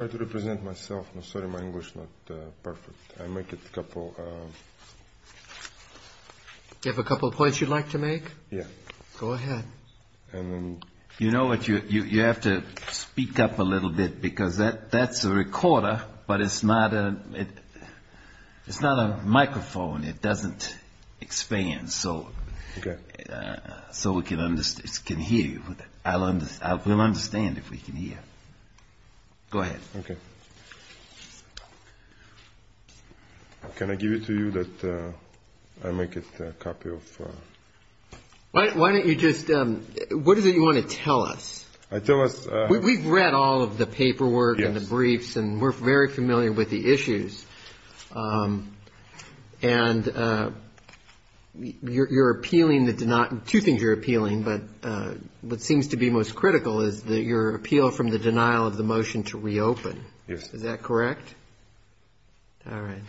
I try to represent myself. I'm sorry my English is not perfect. I make it a couple of... Do you have a couple of points you'd like to make? Yeah. Go ahead. You know what, you have to speak up a little bit because that's a recorder but it's not a microphone. It doesn't expand so we can hear you. We'll understand if we can hear. Go ahead. Okay. Can I give it to you that I make it a copy of... Why don't you just... What is it you want to tell us? Tell us... We've read all of the paperwork and the briefs and we're very familiar with the issues. And you're appealing the... Two things you're appealing but what seems to be most critical is your appeal from the denial of the motion to reopen. Yes. Is that correct? All right.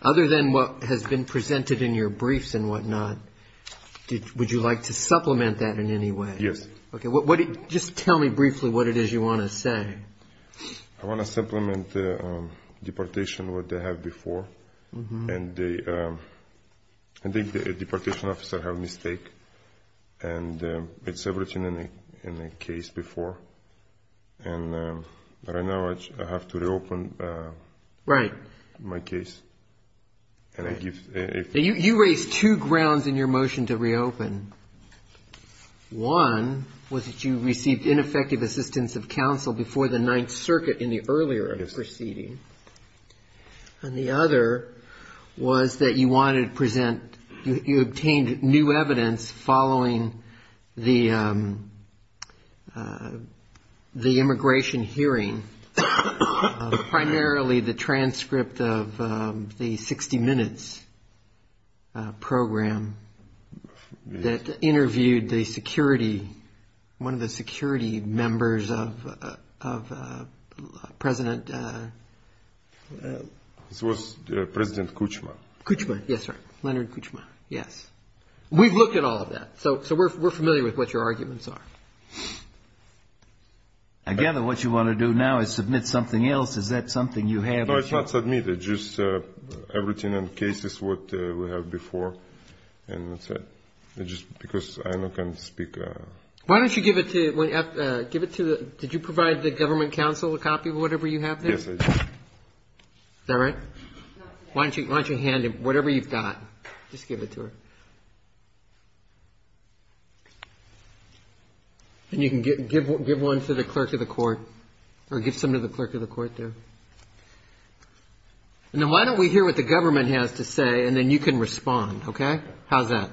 Other than what has been presented in your briefs and whatnot, would you like to supplement that in any way? Yes. Okay. Just tell me briefly what it is you want to say. I want to supplement the deportation what they have before. And I think the deportation officer have mistake and it's everything in the case before. And right now I have to reopen... Right. ...my case. You raised two grounds in your motion to reopen. One was that you received ineffective assistance of counsel before the Ninth Circuit in the earlier proceeding. And the other was that you wanted to present... You obtained new evidence following the immigration hearing, primarily the transcript of the 60 Minutes program that interviewed the security... This was President Kuchma. Kuchma. Yes, sir. Leonard Kuchma. Yes. We've looked at all of that. So we're familiar with what your arguments are. Again, what you want to do now is submit something else. Is that something you have? No, it's not submitted. Just everything in the case is what we have before. And that's it. Just because I can't speak... Why don't you give it to... Did you provide the government counsel a copy of whatever you have there? Yes, I did. Is that right? Why don't you hand him whatever you've got? Just give it to her. And you can give one to the clerk of the court or give some to the clerk of the court there. Now, why don't we hear what the government has to say and then you can respond, okay? How's that?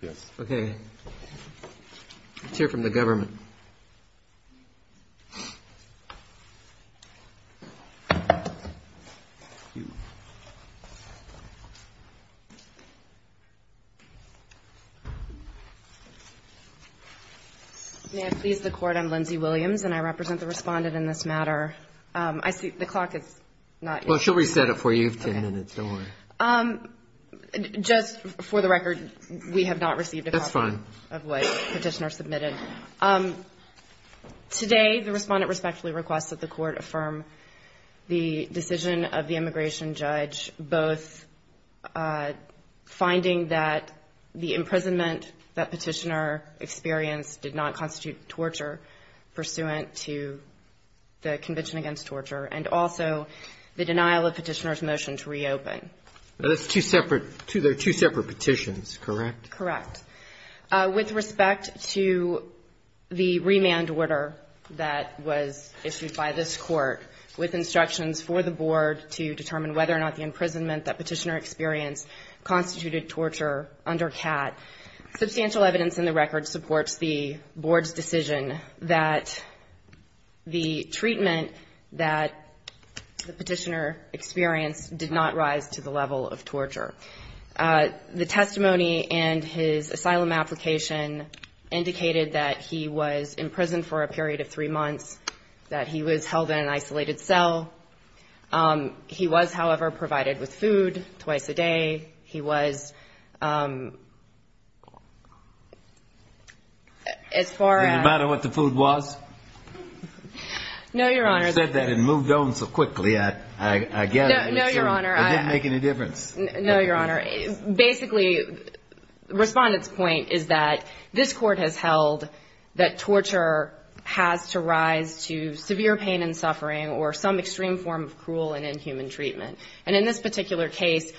Yes. Okay. Let's hear from the government. May I please the court? I'm Lindsay Williams, and I represent the respondent in this matter. I see the clock is not... Well, she'll reset it for you. Ten minutes. Don't worry. Just for the record, we have not received a copy... That's fine. ...of what Petitioner submitted. Today, the respondent respectfully requests that the court affirm the decision of the immigration judge, both finding that the imprisonment that Petitioner experienced did not constitute torture pursuant to the Convention Against Torture, and also the denial of Petitioner's motion to reopen. Those are two separate petitions, correct? Correct. With respect to the remand order that was issued by this Court with instructions for the board to determine whether or not the imprisonment that Petitioner experienced constituted torture under CAT, substantial evidence in the record supports the board's decision that the treatment that Petitioner experienced did not rise to the level of torture. The testimony and his asylum application indicated that he was in prison for a period of three months, that he was held in an isolated cell. He was, however, provided with food twice a day. He was... Does it matter what the food was? No, Your Honor. You said that and moved on so quickly, I get it. No, Your Honor. It didn't make any difference. No, Your Honor. Basically, the respondent's point is that this Court has held that torture has to rise to severe pain and suffering or some extreme form of cruel and inhuman treatment. And in this particular case,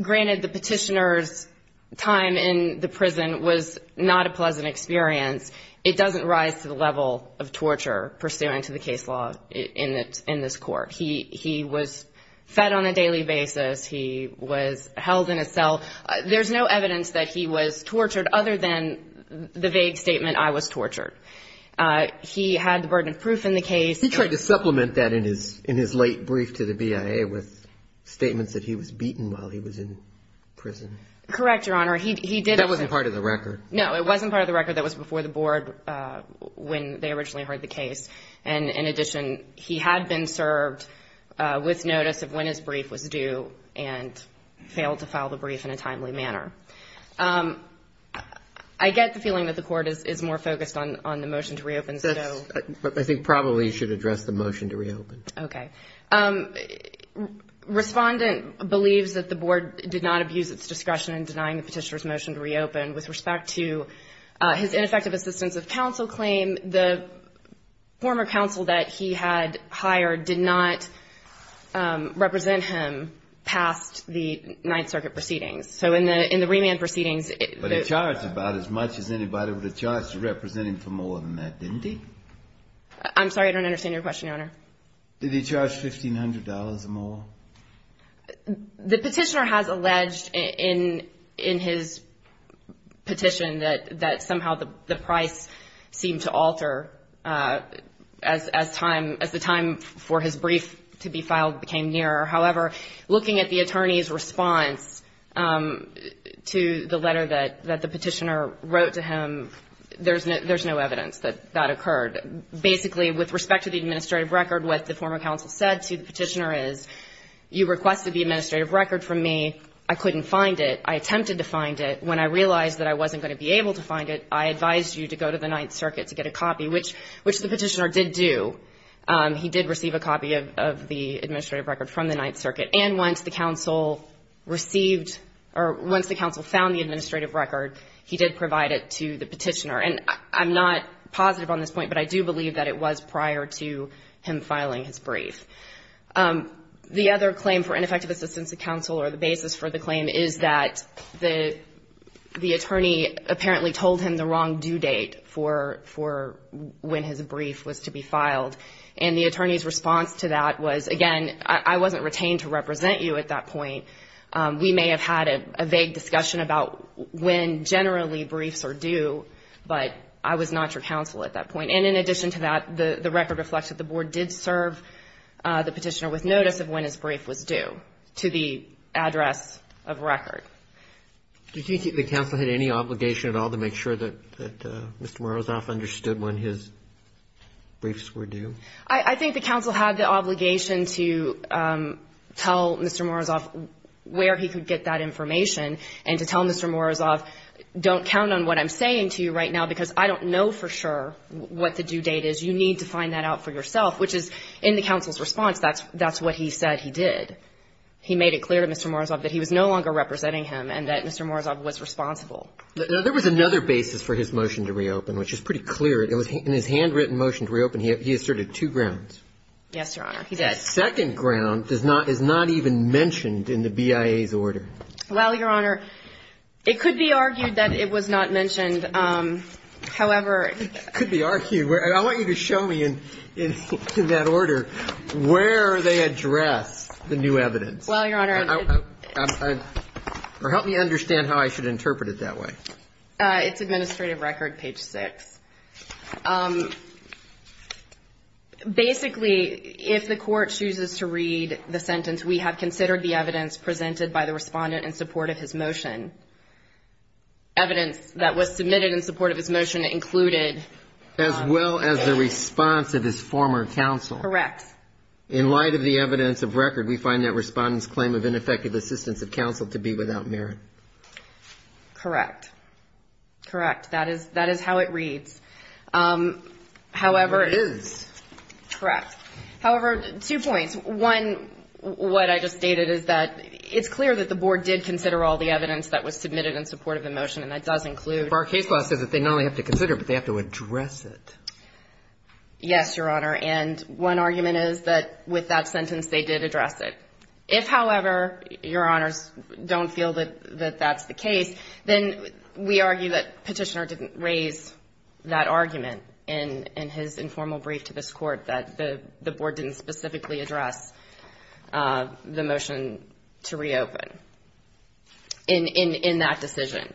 granted the Petitioner's time in the prison was not a pleasant experience, it doesn't rise to the level of torture pursuant to the case law in this Court. He was fed on a daily basis. He was held in a cell. There's no evidence that he was tortured other than the vague statement, I was tortured. He had the burden of proof in the case. He tried to supplement that in his late brief to the BIA with statements that he was beaten while he was in prison. Correct, Your Honor. He did... That wasn't part of the record. No, it wasn't part of the record. That was before the Board when they originally heard the case. And in addition, he had been served with notice of when his brief was due and failed to file the brief in a timely manner. I get the feeling that the Court is more focused on the motion to reopen. I think probably you should address the motion to reopen. Okay. Respondent believes that the Board did not abuse its discretion in denying the Petitioner's motion to reopen. With respect to his ineffective assistance of counsel claim, the former counsel that he had hired did not represent him past the Ninth Circuit proceedings. So in the remand proceedings... He didn't get charged about as much as anybody with a charge to represent him for more than that, didn't he? I'm sorry, I don't understand your question, Your Honor. Did he charge $1,500 or more? The Petitioner has alleged in his petition that somehow the price seemed to alter as time, as the time for his brief to be filed became nearer. However, looking at the attorney's response to the letter that the Petitioner wrote to him, there's no evidence that that occurred. Basically, with respect to the administrative record, what the former counsel said to the Petitioner is, you requested the administrative record from me. I couldn't find it. I attempted to find it. When I realized that I wasn't going to be able to find it, I advised you to go to the Ninth Circuit to get a copy, which the Petitioner did do. He did receive a copy of the administrative record from the Ninth Circuit. And once the counsel received or once the counsel found the administrative record, he did provide it to the Petitioner. And I'm not positive on this point, but I do believe that it was prior to him filing his brief. The other claim for ineffective assistance to counsel or the basis for the claim is that the attorney apparently told him the wrong due date for when his brief was to be filed. And the attorney's response to that was, again, I wasn't retained to represent you at that point. We may have had a vague discussion about when generally briefs are due, but I was not your counsel at that point. And in addition to that, the record reflects that the Board did serve the Petitioner with notice of when his brief was due to the address of record. Do you think the counsel had any obligation at all to make sure that Mr. Morozov understood when his briefs were due? I think the counsel had the obligation to tell Mr. Morozov where he could get that information and to tell Mr. Morozov, don't count on what I'm saying to you right now, because I don't know for sure what the due date is. You need to find that out for yourself, which is, in the counsel's response, that's what he said he did. He made it clear to Mr. Morozov that he was no longer representing him and that Mr. Morozov was responsible. Now, there was another basis for his motion to reopen, which is pretty clear. In his handwritten motion to reopen, he asserted two grounds. Yes, Your Honor. The second ground is not even mentioned in the BIA's order. Well, Your Honor, it could be argued that it was not mentioned. It could be argued. I want you to show me in that order where they address the new evidence. Well, Your Honor. Or help me understand how I should interpret it that way. It's Administrative Record, page 6. Basically, if the Court chooses to read the sentence, we have considered the evidence presented by the Respondent in support of his motion. Evidence that was submitted in support of his motion included. As well as the response of his former counsel. Correct. In light of the evidence of record, we find that Respondent's claim of ineffective assistance of counsel to be without merit. Correct. Correct. That is how it reads. However. It is. Correct. However, two points. One, what I just stated is that it's clear that the Board did consider all the evidence that was submitted in support of the motion, and that does include. But our case law says that they not only have to consider it, but they have to address it. Yes, Your Honor. And one argument is that with that sentence, they did address it. If, however, Your Honors don't feel that that's the case, then we argue that Petitioner didn't raise that argument in his informal brief to this Court, that the Board didn't specifically address the motion to reopen in that decision.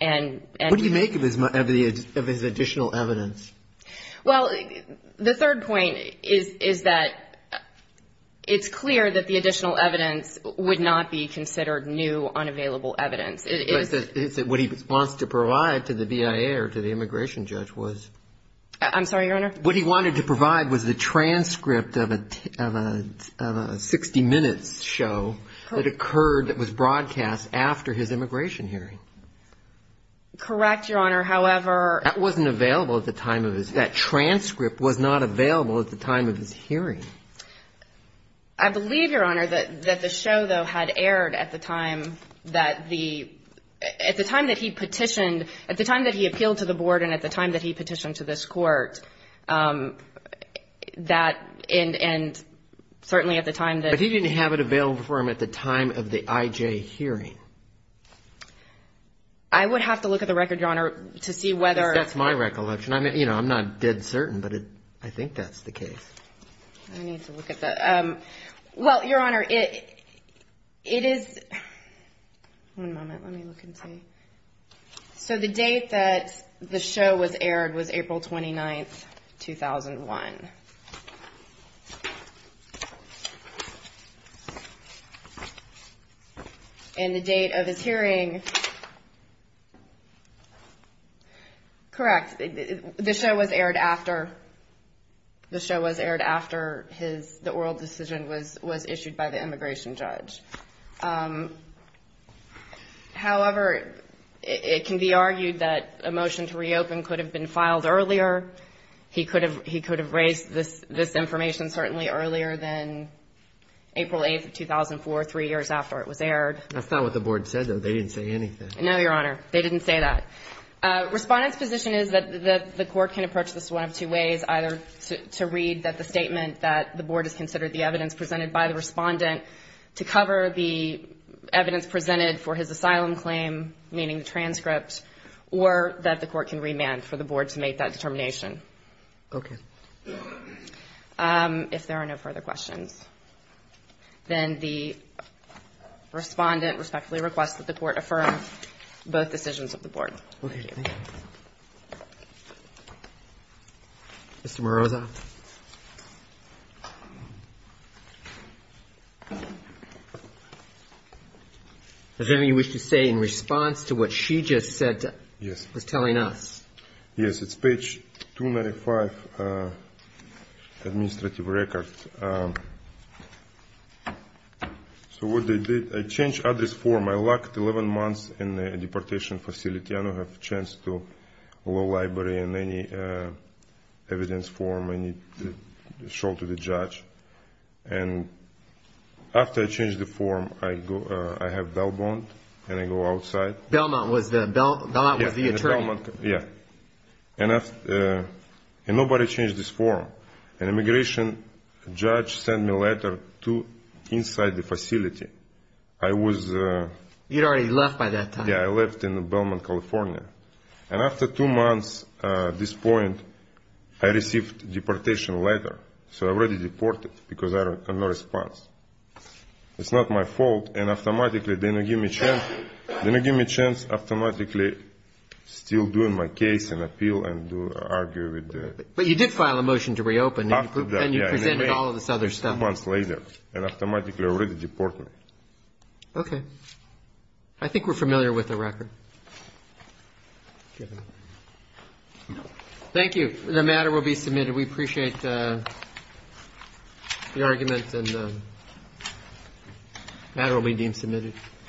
And. What do you make of his additional evidence? Well, the third point is that it's clear that the additional evidence would not be considered new, unavailable evidence. What he wants to provide to the BIA or to the immigration judge was. I'm sorry, Your Honor. What he wanted to provide was the transcript of a 60-minute show that occurred, that was broadcast after his immigration hearing. Correct, Your Honor. However. That wasn't available at the time of his. That transcript was not available at the time of his hearing. I believe, Your Honor, that the show, though, had aired at the time that the, at the time that he petitioned, at the time that he appealed to the Board and at the time that he petitioned to this Court, that, and certainly at the time that. But he didn't have it available for him at the time of the IJ hearing. I would have to look at the record, Your Honor, to see whether. That's my recollection. I mean, you know, I'm not dead certain, but I think that's the case. I need to look at that. Well, Your Honor, it is. One moment. Let me look and see. So the date that the show was aired was April 29, 2001. And the date of his hearing. Correct. The show was aired after, the show was aired after his, the oral decision was issued by the immigration judge. However, it can be argued that a motion to reopen could have been filed earlier. He could have raised this information certainly earlier than April 8, 2004, three years after it was aired. That's not what the Board said, though. They didn't say anything. No, Your Honor. They didn't say that. Respondent's position is that the Court can approach this one of two ways, either to read that the statement that the Board has considered the evidence presented by the Respondent to cover the evidence presented for his asylum claim, meaning the transcript, or that the Court can remand for the Board to make that determination. Okay. If there are no further questions, then the Respondent respectfully requests that the Court affirm both decisions of the Board. Okay. Mr. Morozov? Does anybody wish to say in response to what she just said, was telling us? Yes, it's page 295, administrative record. So what they did, I changed address form. I locked 11 months in a deportation facility. I don't have a chance to go to the library in any evidence form I need to show to the judge. And after I changed the form, I have bail bond, and I go outside. Bail bond was the attorney. Yes. And nobody changed this form. And immigration judge sent me letter to inside the facility. I was ---- You had already left by that time. Yes, I left in Belmont, California. And after two months at this point, I received deportation letter. So I already deported because I have no response. It's not my fault. And automatically they didn't give me chance. They didn't give me chance automatically still doing my case and appeal and argue with the ---- But you did file a motion to reopen. And you presented all of this other stuff. Two months later, and automatically already deported. Okay. I think we're familiar with the record. Thank you. The matter will be submitted. We appreciate the argument, and the matter will be deemed submitted.